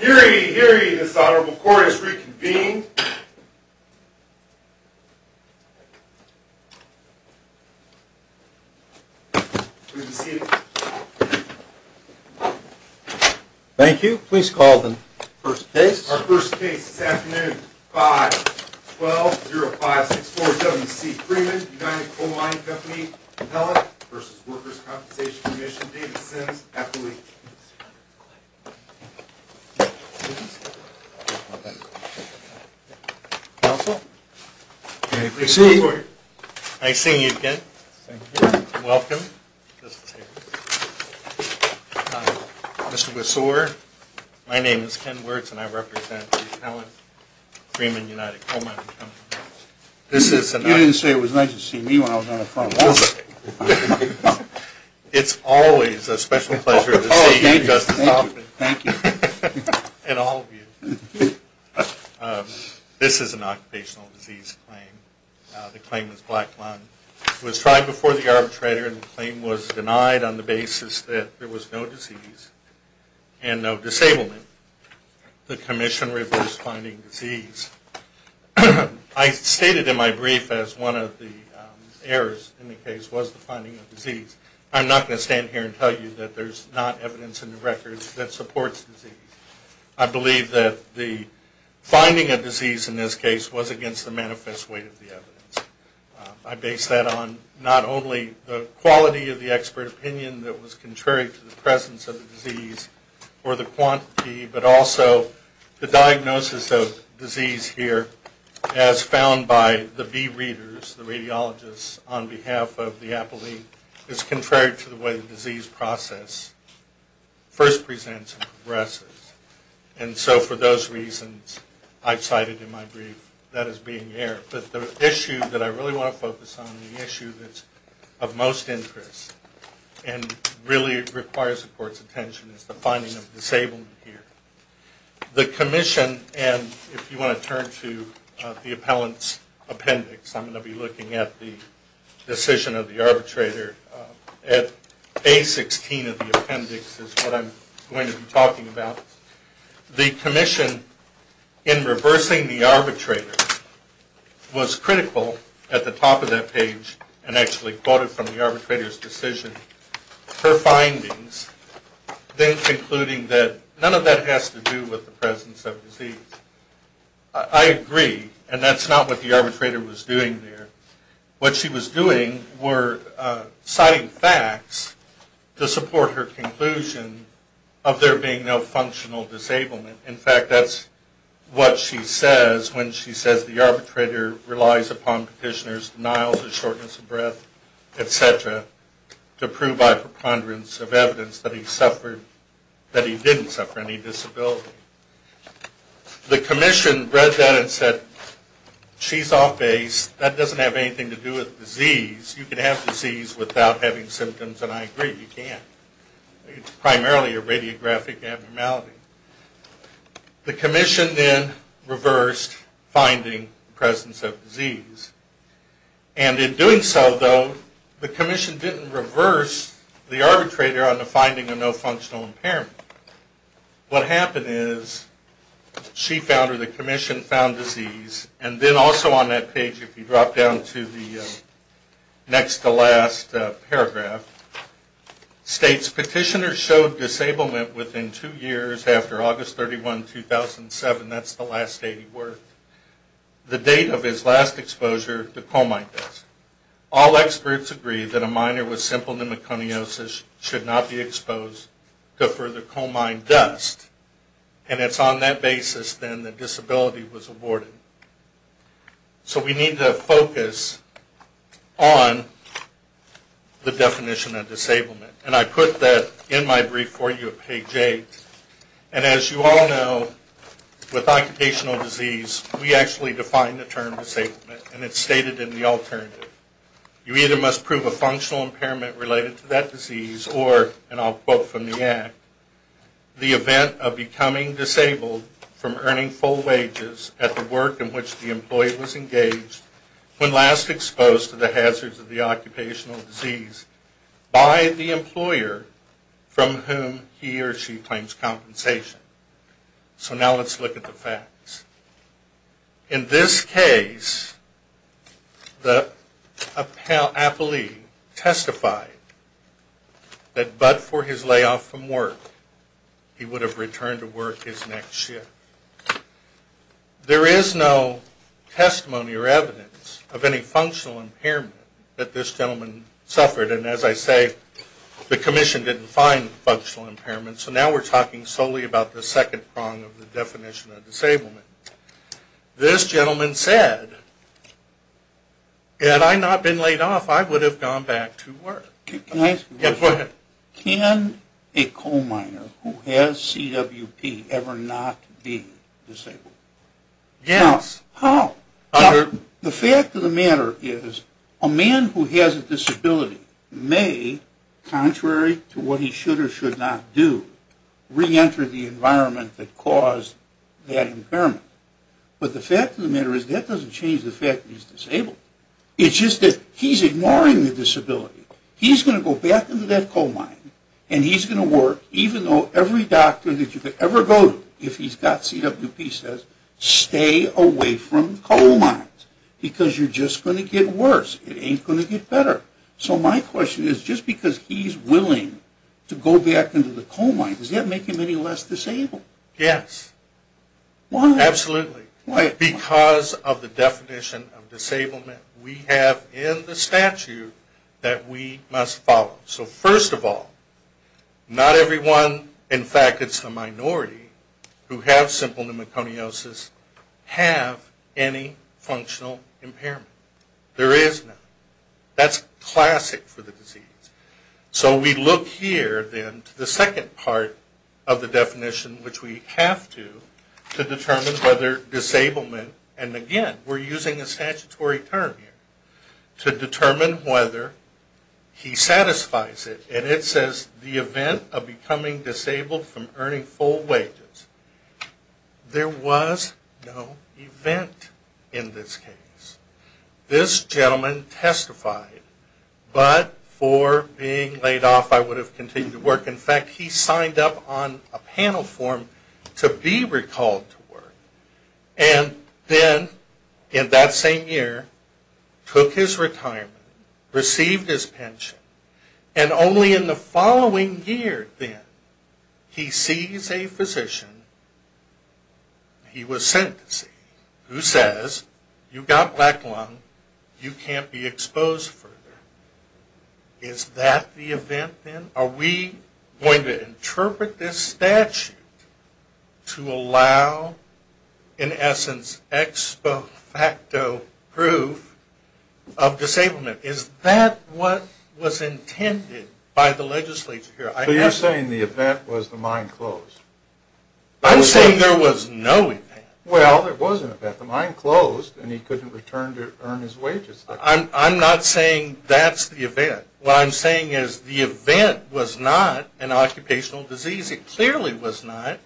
Eerie, eerie, this Honorable Court has reconvened. Please be seated. Thank you. Please call the first case. Our first case this afternoon. 5-12-0564 W.C. Freeman, United Coal Mining Company, Appellant v. Workers' Compensation Commission, David Sims, Appellee. Counsel? Please be seated. Nice seeing you again. Thank you. Welcome. Mr. Besore, my name is Ken Wirtz and I represent the Appellant Freeman, United Coal Mining Company. You didn't say it was nice to see me when I was on the front lawn. It's always a special pleasure to see you, Justice Hoffman. Thank you. And all of you. This is an occupational disease claim. The claim is black lung. It was tried before the arbitrator and the claim was denied on the basis that there was no disease and no disablement. The commission reversed finding disease. I stated in my brief as one of the errors in the case was the finding of disease. I'm not going to stand here and tell you that there's not evidence in the records that supports disease. I believe that the finding of disease in this case was against the manifest weight of the evidence. I base that on not only the quality of the expert opinion that was contrary to the presence of the disease or the quantity, but also the diagnosis of disease here as found by the B readers, the radiologists, on behalf of the appellee, is contrary to the way the disease process first presents and progresses. And so for those reasons, I've cited in my brief that as being error. But the issue that I really want to focus on, the issue that's of most interest and really requires the court's attention, is the finding of disablement here. The commission, and if you want to turn to the appellant's appendix, I'm going to be looking at the decision of the arbitrator at A16 of the appendix is what I'm going to be talking about. The commission in reversing the arbitrator was critical at the top of that page and actually quoted from the arbitrator's decision her findings, then concluding that none of that has to do with the presence of disease. I agree, and that's not what the arbitrator was doing there. What she was doing were citing facts to support her conclusion of there being no functional disablement. In fact, that's what she says when she says the arbitrator relies upon petitioner's denials of shortness of breath, etc., to prove by preponderance of evidence that he suffered, that he didn't suffer any disability. The commission read that and said, she's off base. That doesn't have anything to do with disease. You can have disease without having symptoms, and I agree, you can't. It's primarily a radiographic abnormality. The commission then reversed finding presence of disease, and in doing so, though, the commission didn't reverse the arbitrator on the finding of no functional impairment. What happened is, she found her, the commission found disease, and then also on that page, if you drop down to the next to last paragraph, states petitioner showed disablement within two years after August 31, 2007, that's the last date he worked, the date of his last exposure to cold mites. All experts agree that a minor with simple pneumoconiosis should not be exposed to further coal mine dust, and it's on that basis, then, that disability was awarded. So we need to focus on the definition of disablement, and I put that in my brief for you at page 8, and as you all know, with occupational disease, we actually define the term disablement, and it's stated in the alternative. You either must prove a functional impairment related to that disease, or, and I'll quote from the act, the event of becoming disabled from earning full wages at the work in which the employee was engaged when last exposed to the hazards of the occupational disease by the employer from whom he or she claims compensation. So now let's look at the facts. In this case, the appellee testified that but for his layoff from work, he would have returned to work his next shift. There is no testimony or evidence of any functional impairment that this gentleman suffered, and as I say, the commission didn't find functional impairment, so now we're talking solely about the second prong of the definition of disablement. This gentleman said, had I not been laid off, I would have gone back to work. Can I ask a question? Yeah, go ahead. Can a coal miner who has CWP ever not be disabled? Yes. How? The fact of the matter is, a man who has a disability may, contrary to what he should or should not do, reenter the environment that caused that impairment. But the fact of the matter is, that doesn't change the fact that he's disabled. It's just that he's ignoring the disability. He's going to go back into that coal mine, and he's going to work, even though every doctor that you could ever go to, if he's got CWP, says, stay away from coal mines, because you're just going to get worse. It ain't going to get better. So my question is, just because he's willing to go back into the coal mine, does that make him any less disabled? Yes. Why? Absolutely. Why? Because of the definition of disablement we have in the statute that we must follow. So first of all, not everyone, in fact it's the minority, who have simple pneumoconiosis have any functional impairment. There is none. That's classic for the disease. So we look here, then, to the second part of the definition, which we have to, to determine whether disablement, and again, we're using a statutory term here, to determine whether he satisfies it. And it says, the event of becoming disabled from earning full wages. There was no event in this case. This gentleman testified, but for being laid off, I would have continued to work. In fact, he signed up on a panel form to be recalled to work. And then, in that same year, took his retirement, received his pension. And only in the following year, then, he sees a physician, he was sent to see, who says, you've got black lung, you can't be exposed further. Is that the event, then? Are we going to interpret this statute to allow, in essence, expo facto proof of disablement? Is that what was intended by the legislature here? So you're saying the event was the mine closed? I'm saying there was no event. Well, there was an event. The mine closed, and he couldn't return to earn his wages. I'm not saying that's the event. What I'm saying is, the event was not an occupational disease. It clearly was not,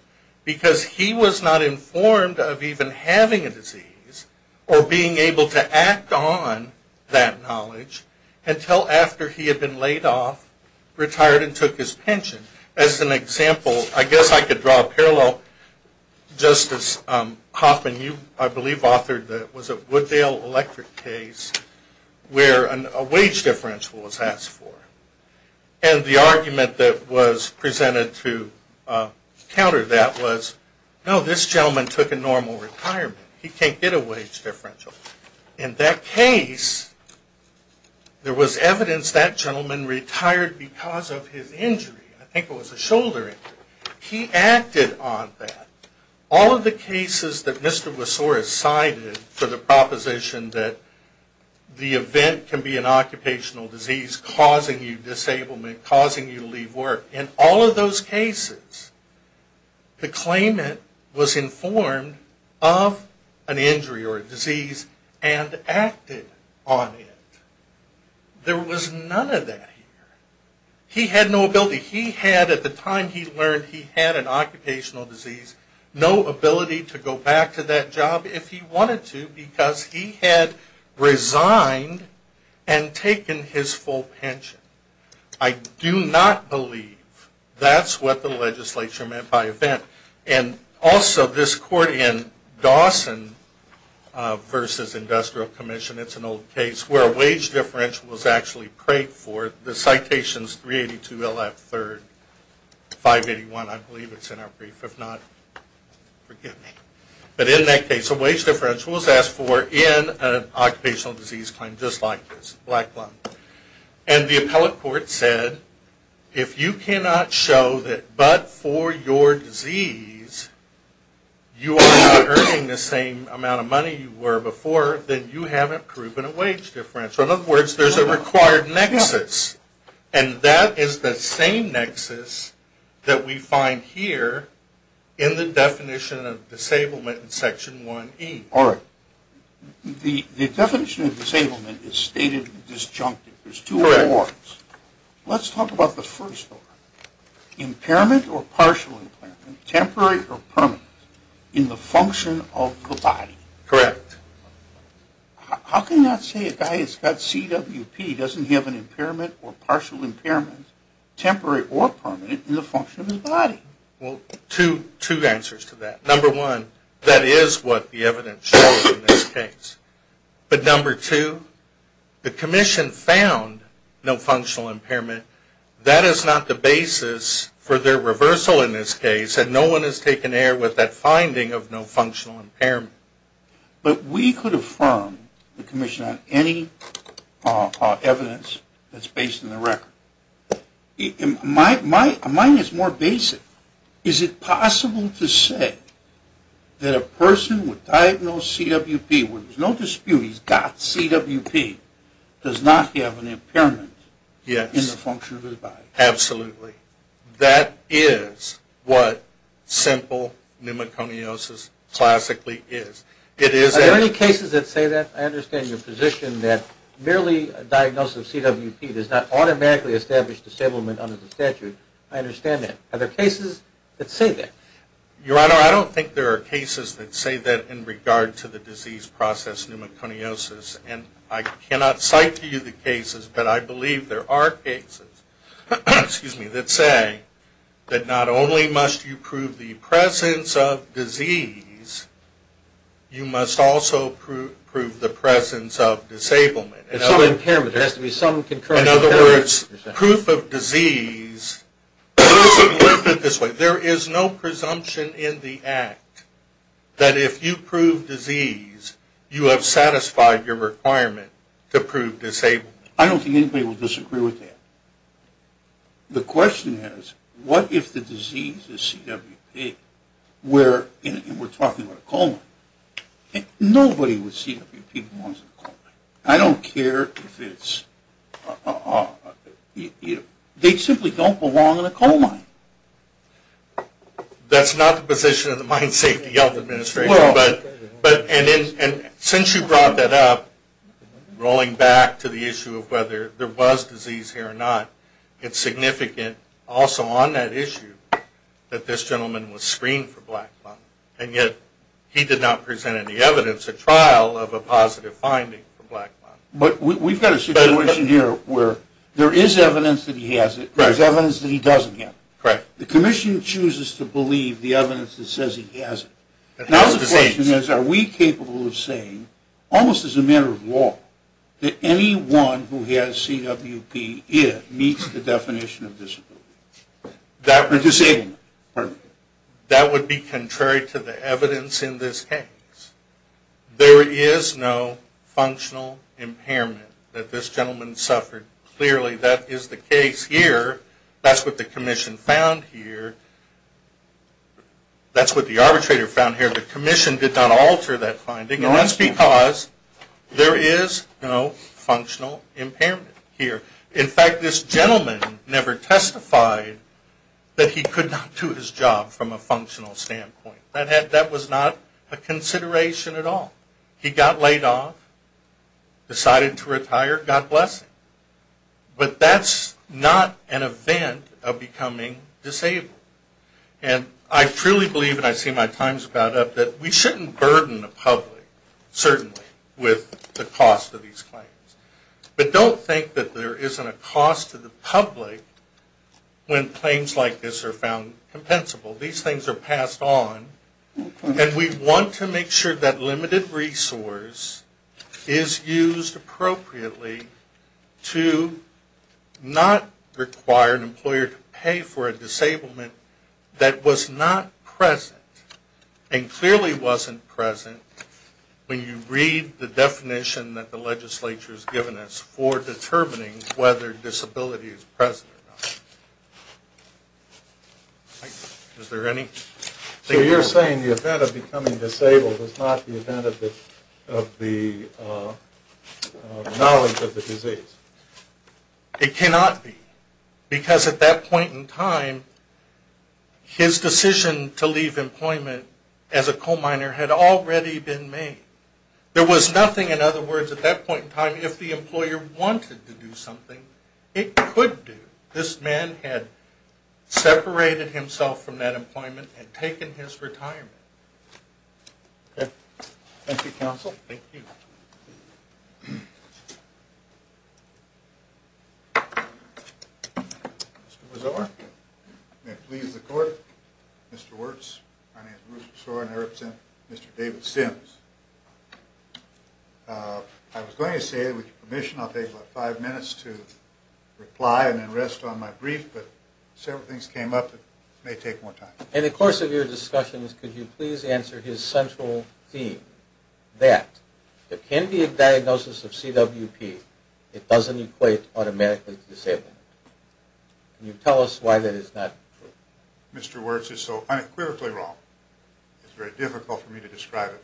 because he was not informed of even having a disease, or being able to act on that knowledge, until after he had been laid off, retired, and took his pension. As an example, I guess I could draw a parallel, just as Hoffman, you, I believe, Wooddale Electric case, where a wage differential was asked for. And the argument that was presented to counter that was, no, this gentleman took a normal retirement. He can't get a wage differential. In that case, there was evidence that gentleman retired because of his injury. I think it was a shoulder injury. He acted on that. All of the cases that Mr. Rosor has cited for the proposition that the event can be an occupational disease causing you disablement, causing you to leave work, in all of those cases, the claimant was informed of an injury or a disease and acted on it. There was none of that here. He had no ability. He had, at the time he learned he had an occupational disease, no ability to go back to that job if he wanted to because he had resigned and taken his full pension. I do not believe that's what the legislature meant by event. And also, this court in Dawson v. Industrial Commission, it's an old case, where a wage differential was actually prayed for. The citation is 382 LF 3rd, 581, I believe it's in our brief. If not, forgive me. But in that case, a wage differential was asked for in an occupational disease claim just like this, a black loan. And the appellate court said, if you cannot show that but for your disease, you are not earning the same amount of money you were before, then you haven't proven a wage differential. In other words, there's a required nexus. And that is the same nexus that we find here in the definition of disablement in Section 1E. All right. The definition of disablement is stated disjunctive. There's two forms. Let's talk about the first one. Impairment or partial impairment, temporary or permanent, in the function of the body. Correct. How can you not say a guy has got CWP, doesn't he have an impairment or partial impairment, temporary or permanent, in the function of his body? Well, two answers to that. Number one, that is what the evidence shows in this case. But number two, the commission found no functional impairment. That is not the basis for their reversal in this case, they said no one has taken error with that finding of no functional impairment. But we could affirm the commission on any evidence that's based on the record. Mine is more basic. Is it possible to say that a person with diagnosed CWP, where there's no dispute he's got CWP, does not have an impairment in the function of his body? Yes, absolutely. That is what simple pneumoconiosis classically is. Are there any cases that say that? I understand your position that merely a diagnosis of CWP does not automatically establish disablement under the statute. I understand that. Are there cases that say that? Your Honor, I don't think there are cases that say that in regard to the disease process pneumoconiosis, and I cannot cite to you the cases, but I believe there are cases, excuse me, that say that not only must you prove the presence of disease, you must also prove the presence of disablement. There has to be some concurrent impairment. In other words, proof of disease, let's put it this way, there is no presumption in the act that if you prove disease, you have satisfied your requirement to prove disablement. I don't think anybody would disagree with that. The question is, what if the disease is CWP where, and we're talking about a coal mine, nobody with CWP belongs in a coal mine. I don't care if it's, they simply don't belong in a coal mine. That's not the position of the Mine Safety Administration, Since you brought that up, rolling back to the issue of whether there was disease here or not, it's significant also on that issue that this gentleman was screened for black blood, and yet he did not present any evidence, a trial of a positive finding for black blood. But we've got a situation here where there is evidence that he has it, there's evidence that he doesn't have it. The commission chooses to believe the evidence that says he has it. Now the question is, are we capable of saying, almost as a matter of law, that anyone who has CWP if meets the definition of disability? Or disablement. That would be contrary to the evidence in this case. There is no functional impairment that this gentleman suffered. Clearly that is the case here, that's what the commission found here, that's what the arbitrator found here, the commission did not alter that finding, and that's because there is no functional impairment here. In fact, this gentleman never testified that he could not do his job from a functional standpoint. That was not a consideration at all. He got laid off, decided to retire, God bless him. But that's not an event of becoming disabled. And I truly believe, and I see my times about up, that we shouldn't burden the public, certainly, with the cost of these claims. But don't think that there isn't a cost to the public when claims like this are found compensable. These things are passed on, and we want to make sure that limited resource is used appropriately to not require an employer to pay for a disablement that was not present, and clearly wasn't present, when you read the definition that the legislature has given us for determining whether disability is present or not. Is there any? So you're saying the event of becoming disabled is not the event of the knowledge of the disease? It cannot be, because at that point in time, his decision to leave employment as a coal miner had already been made. There was nothing, in other words, at that point in time, if the employer wanted to do something, it could do. This man had separated himself from that employment and taken his retirement. Okay. Thank you, counsel. Thank you. Mr. Mazur. May it please the court. Mr. Wirtz. My name is Bruce Mazur, and I represent Mr. David Sims. I was going to say, with your permission, I'll take about five minutes to reply and then rest on my brief, but several things came up that may take more time. In the course of your discussions, could you please answer his central theme, that there can be a diagnosis of CWP. It doesn't equate automatically to disablement. Can you tell us why that is not true? Mr. Wirtz is so unequivocally wrong, it's very difficult for me to describe it.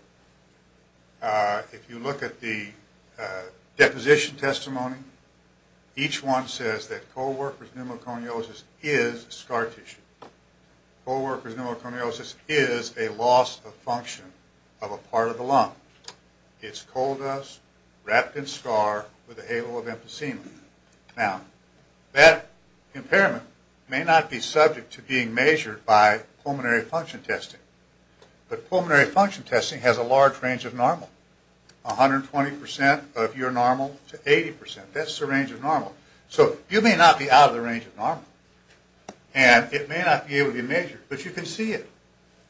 If you look at the deposition testimony, each one says that co-worker's pneumoconiosis is scar tissue. Co-worker's pneumoconiosis is a loss of function of a part of the lung. It's coal dust wrapped in scar with a halo of emphysema. Now, that impairment may not be subject to being measured by pulmonary function testing, but pulmonary function testing has a large range of normal. 120% of your normal to 80%. That's the range of normal. So, you may not be out of the range of normal, and it may not be able to be measured, but you can see it.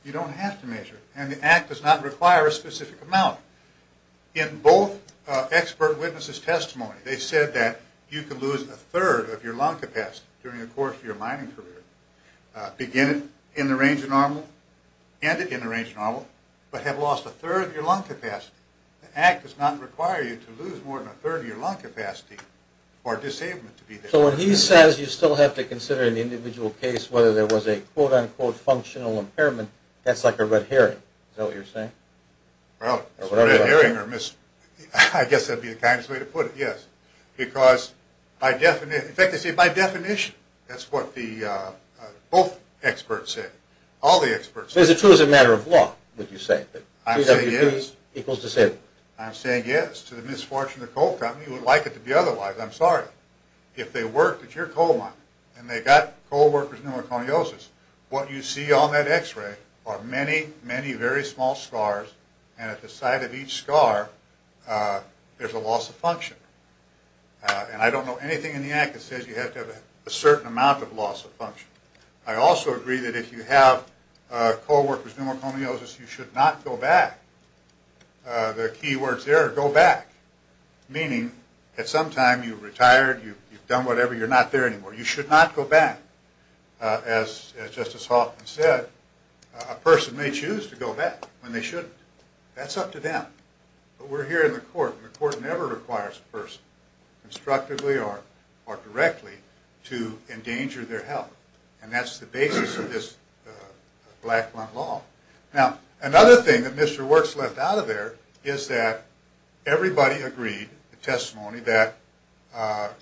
You don't have to measure it, and the act does not require a specific amount. In both expert witnesses' testimony, they said that you can lose a third of your lung capacity. The act does not require you to lose more than a third of your lung capacity for disabling to be there. So, when he says you still have to consider an individual case whether there was a, quote, unquote, functional impairment, that's like a red herring. Is that what you're saying? Well, it's a red herring, or I guess that would be the kindest way to put it, yes. Because, in fact, they say by definition. That's what both experts say. All the experts say. So, it's true as a matter of law, would you say? I'm saying yes. I'm saying yes. To the misfortune of the coal company, you would like it to be otherwise. I'm sorry. If they worked at your coal mine, and they got coal workers' pneumoconiosis, what you see on that x-ray are many, many very small scars, and at the site of each scar, there's a loss of function. And I don't know anything in the act that says you have to have a certain amount of loss of function. I also agree that if you have coal workers' pneumoconiosis, you should not go back. The key words there are go back. Meaning, at some time, you've retired, you've done whatever, you're not there anymore. You should not go back. As Justice Hoffman said, a person may choose to go back when they shouldn't. That's up to them. But we're here in the court, and the court never requires a person, constructively or directly, to endanger their health. And that's the basis of this Blacklund Law. Now, another thing that Mr. Works left out of there is that everybody agreed, the testimony, that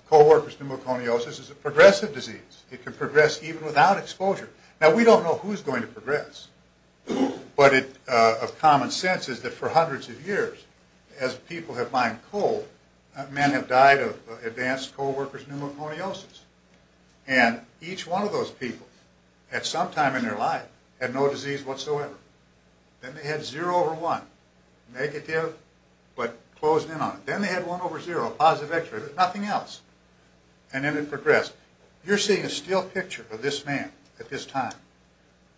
coal workers' pneumoconiosis is a progressive disease. It can progress even without exposure. Now, we don't know who's going to progress. But of common sense is that for hundreds of years, as people have mined coal, men have died of advanced coal workers' pneumoconiosis. And each one of those people, at some time in their life, had no disease whatsoever. Then they had zero over one, negative, but closed in on it. Then they had one over zero, a positive X-ray. There's nothing else. And then it progressed. You're seeing a still picture of this man at this time.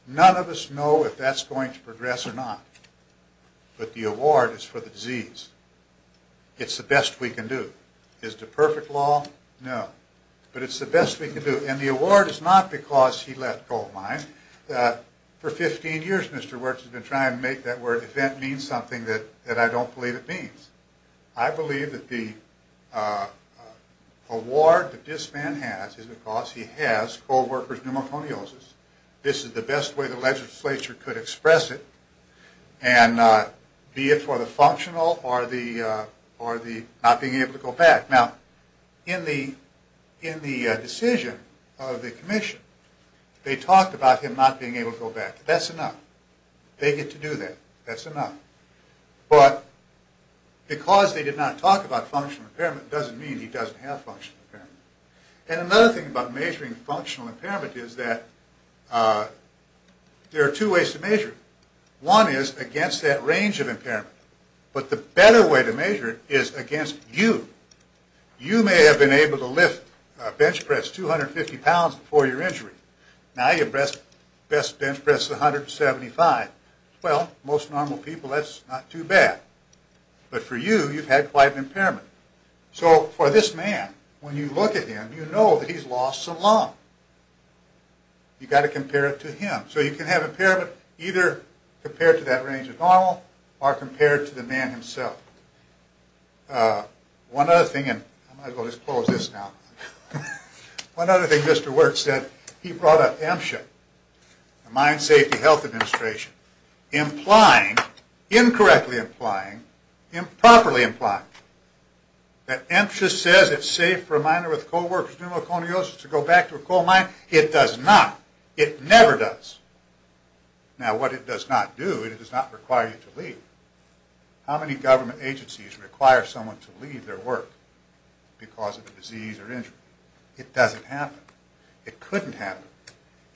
None of us know if that's going to progress or not. But the award is for the disease. It's the best we can do. Is it a perfect law? No. But it's the best we can do. And the award is not because he left coal mines. For 15 years, Mr. Works has been trying to make that word event mean something that I don't believe it means. I believe that the award that this man has is because he has coal workers' pneumoconiosis. This is the best way the legislature could express it, and be it for the not being able to go back. Now, in the decision of the commission, they talked about him not being able to go back. That's enough. They get to do that. That's enough. But because they did not talk about functional impairment doesn't mean he doesn't have functional impairment. And another thing about measuring functional impairment is that there are two ways to measure it. One is against that range of impairment. But the better way to measure it is against you. You may have been able to lift a bench press 250 pounds before your injury. Now your best bench press is 175. Well, most normal people, that's not too bad. But for you, you've had quite an impairment. So for this man, when you look at him, you know that he's lost some lung. You've got to compare it to him. So you can have impairment either compared to that range of normal or compared to the man himself. One other thing, and I might as well just close this now. One other thing Mr. Wertz said, he brought up MSHA, the Mine Safety Health Administration, implying, incorrectly implying, improperly implying, that MSHA says it's safe for a miner with co-workers pneumoconiosis to go back to a coal mine. It does not. It never does. Now what it does not do, it does not require you to leave. How many government agencies require someone to leave their work because of a disease or injury? It doesn't happen. It couldn't happen.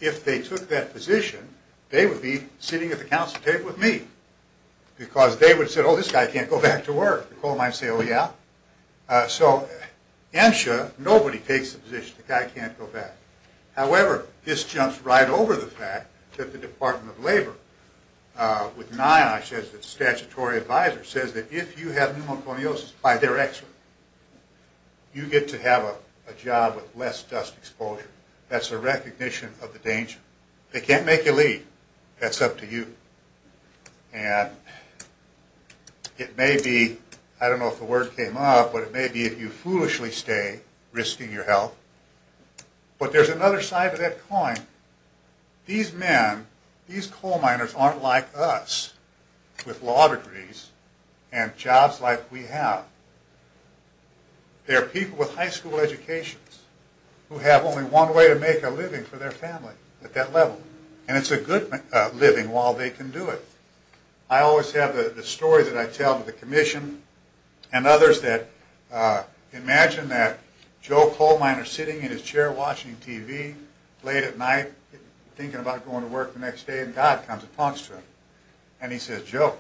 If they took that position, they would be sitting at the council table with me because they would have said, oh, this guy can't go back to work. The coal mine would say, oh, yeah. So MSHA, nobody takes the position. The guy can't go back. However, this jumps right over the fact that the Department of Labor with NIOSH as the statutory advisor says that if you have pneumoconiosis by their exit, you get to have a job with less dust exposure. That's a recognition of the danger. They can't make you leave. That's up to you. And it may be, I don't know if the word came up, but it may be if you There's another side to that coin. These men, these coal miners aren't like us with law degrees and jobs like we have. They're people with high school educations who have only one way to make a living for their family at that level. And it's a good living while they can do it. I always have the story that I tell to the commission and others that imagine that Joe Coal Miner sitting in his chair watching TV late at night thinking about going to work the next day and God comes and talks to him. And he says, Joe,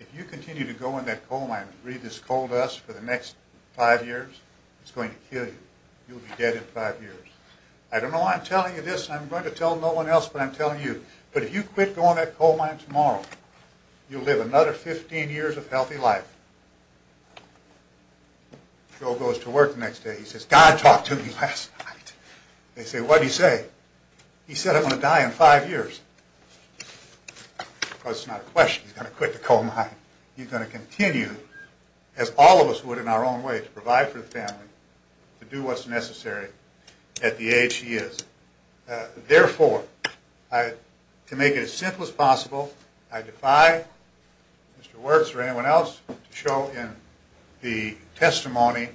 if you continue to go in that coal mine and breathe this coal dust for the next five years, it's going to kill you. You'll be dead in five years. I don't know why I'm telling you this. I'm going to tell no one else but I'm telling you. But if you quit going to that coal mine tomorrow, you'll live another 15 years of healthy life. Joe goes to work the next day. He says, God talked to me last night. They say, what did he say? He said I'm going to die in five years. Of course, it's not a question. He's going to quit the coal mine. He's going to continue, as all of us would in our own way, to provide for the family, to do what's necessary at the age he is. Therefore, to make it as simple as possible, I defy Mr. Ravizuski to show in the testimony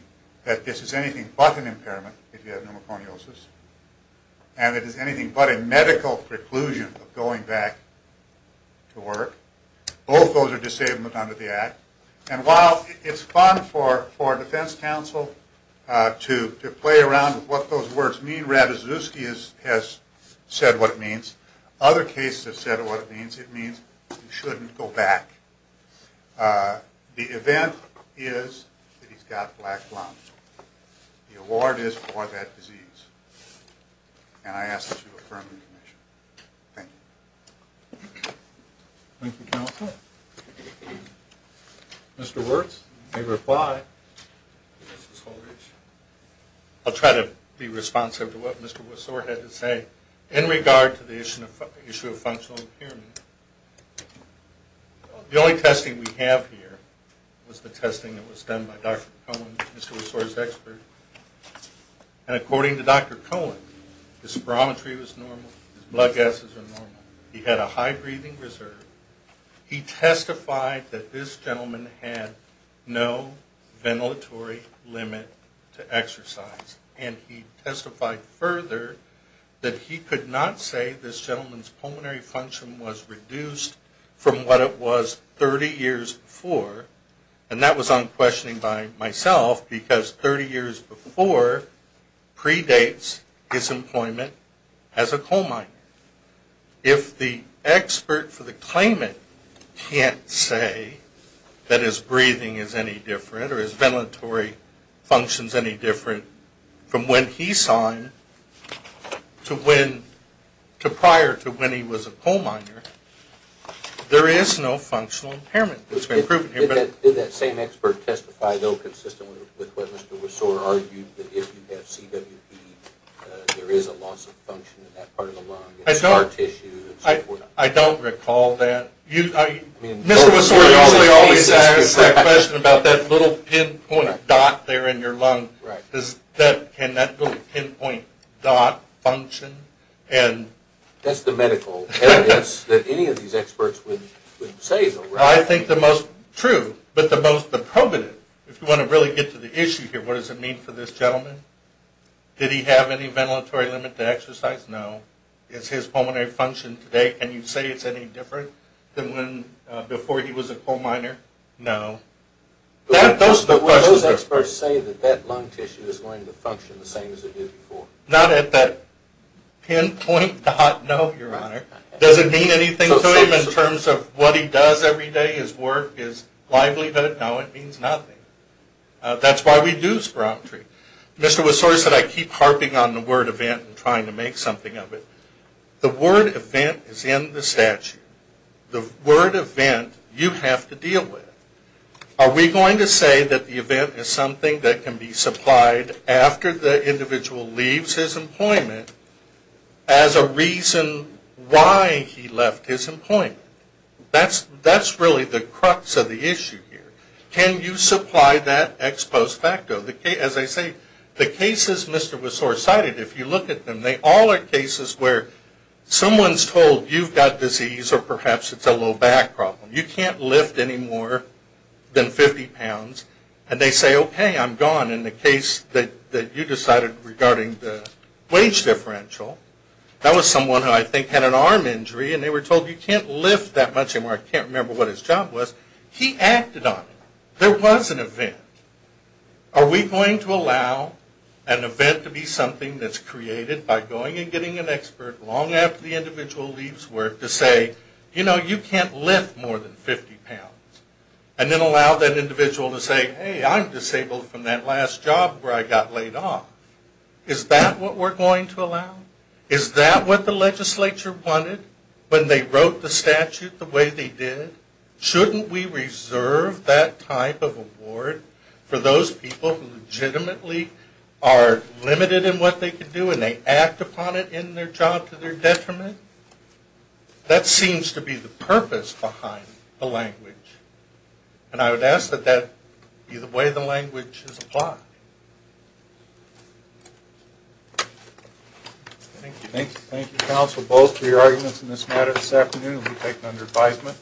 that this is anything but an impairment, if you have pneumoconiosis, and it is anything but a medical preclusion of going back to work. Both of those are disabled under the Act. And while it's fun for Defense Counsel to play around with what those words mean, Ravizuski has said what it means. Other cases have said what it means. It means you shouldn't go back. The event is that he's got black lung. The award is for that disease. And I ask that you affirm the commission. Thank you. Thank you, Counselor. Mr. Wirtz, you may reply. I'll try to be responsive to what Mr. Wissor had to say in regard to the issue of functional impairment. The only testing we have here was the testing that was done by Dr. Cohen, Mr. Wissor's expert. And according to Dr. Cohen, his spirometry was normal. His blood gases were normal. He had a high breathing reserve. He testified that this gentleman had no ventilatory limit to exercise. And he testified further that he could not say this gentleman's pulmonary function was reduced from what it was 30 years before. And that was unquestioning by myself because 30 years before predates his employment as a coal miner. If the expert for the claimant can't say that his breathing is any different or his ventilatory function is any different from when he signed to prior to when he was a coal miner, there is no functional impairment that's been proven here. Did that same expert testify though consistently with what Mr. Wissor argued, that if you have CWD, there is a loss of function in that part of the lung and scar tissue and so forth? I don't recall that. Mr. Wissor, you always ask that question about that little pinpoint dot there in your lung. Can that little pinpoint dot function? That's the medical evidence that any of these experts would say. I think the most true, but the most probative, if you want to really get to the issue here, what does it mean for this gentleman? Did he have any ventilatory limit to exercise? No. Is his pulmonary function today, can you say it's any different? Than before he was a coal miner? No. Those are the questions. But would those experts say that that lung tissue is going to function the same as it did before? Not at that pinpoint dot, no, Your Honor. Does it mean anything to him in terms of what he does every day, his work, his livelihood? No, it means nothing. That's why we do spirometry. Mr. Wissor said I keep harping on the word event and trying to make something of it. The word event is in the statute. The word event you have to deal with. Are we going to say that the event is something that can be supplied after the individual leaves his employment as a reason why he left his employment? That's really the crux of the issue here. Can you supply that ex post facto? As I say, the cases Mr. Wissor cited, if you look at them, they all are cases where someone is told you've got disease or perhaps it's a low back problem. You can't lift any more than 50 pounds. And they say, okay, I'm gone. In the case that you decided regarding the wage differential, that was someone who I think had an arm injury and they were told you can't lift that much anymore. I can't remember what his job was. He acted on it. There was an event. Are we going to allow an event to be something that's created by going and getting an expert long after the individual leaves work to say, you know, you can't lift more than 50 pounds. And then allow that individual to say, hey, I'm disabled from that last job where I got laid off. Is that what we're going to allow? Is that what the legislature wanted when they wrote the statute the way they did? Shouldn't we reserve that type of award for those people who legitimately are limited in what they can do and they act upon it in their job to their detriment? That seems to be the purpose behind the language. And I would ask that that be the way the language is applied. Thank you. Thank you, counsel, both for your arguments in this matter this afternoon and for taking under advisement.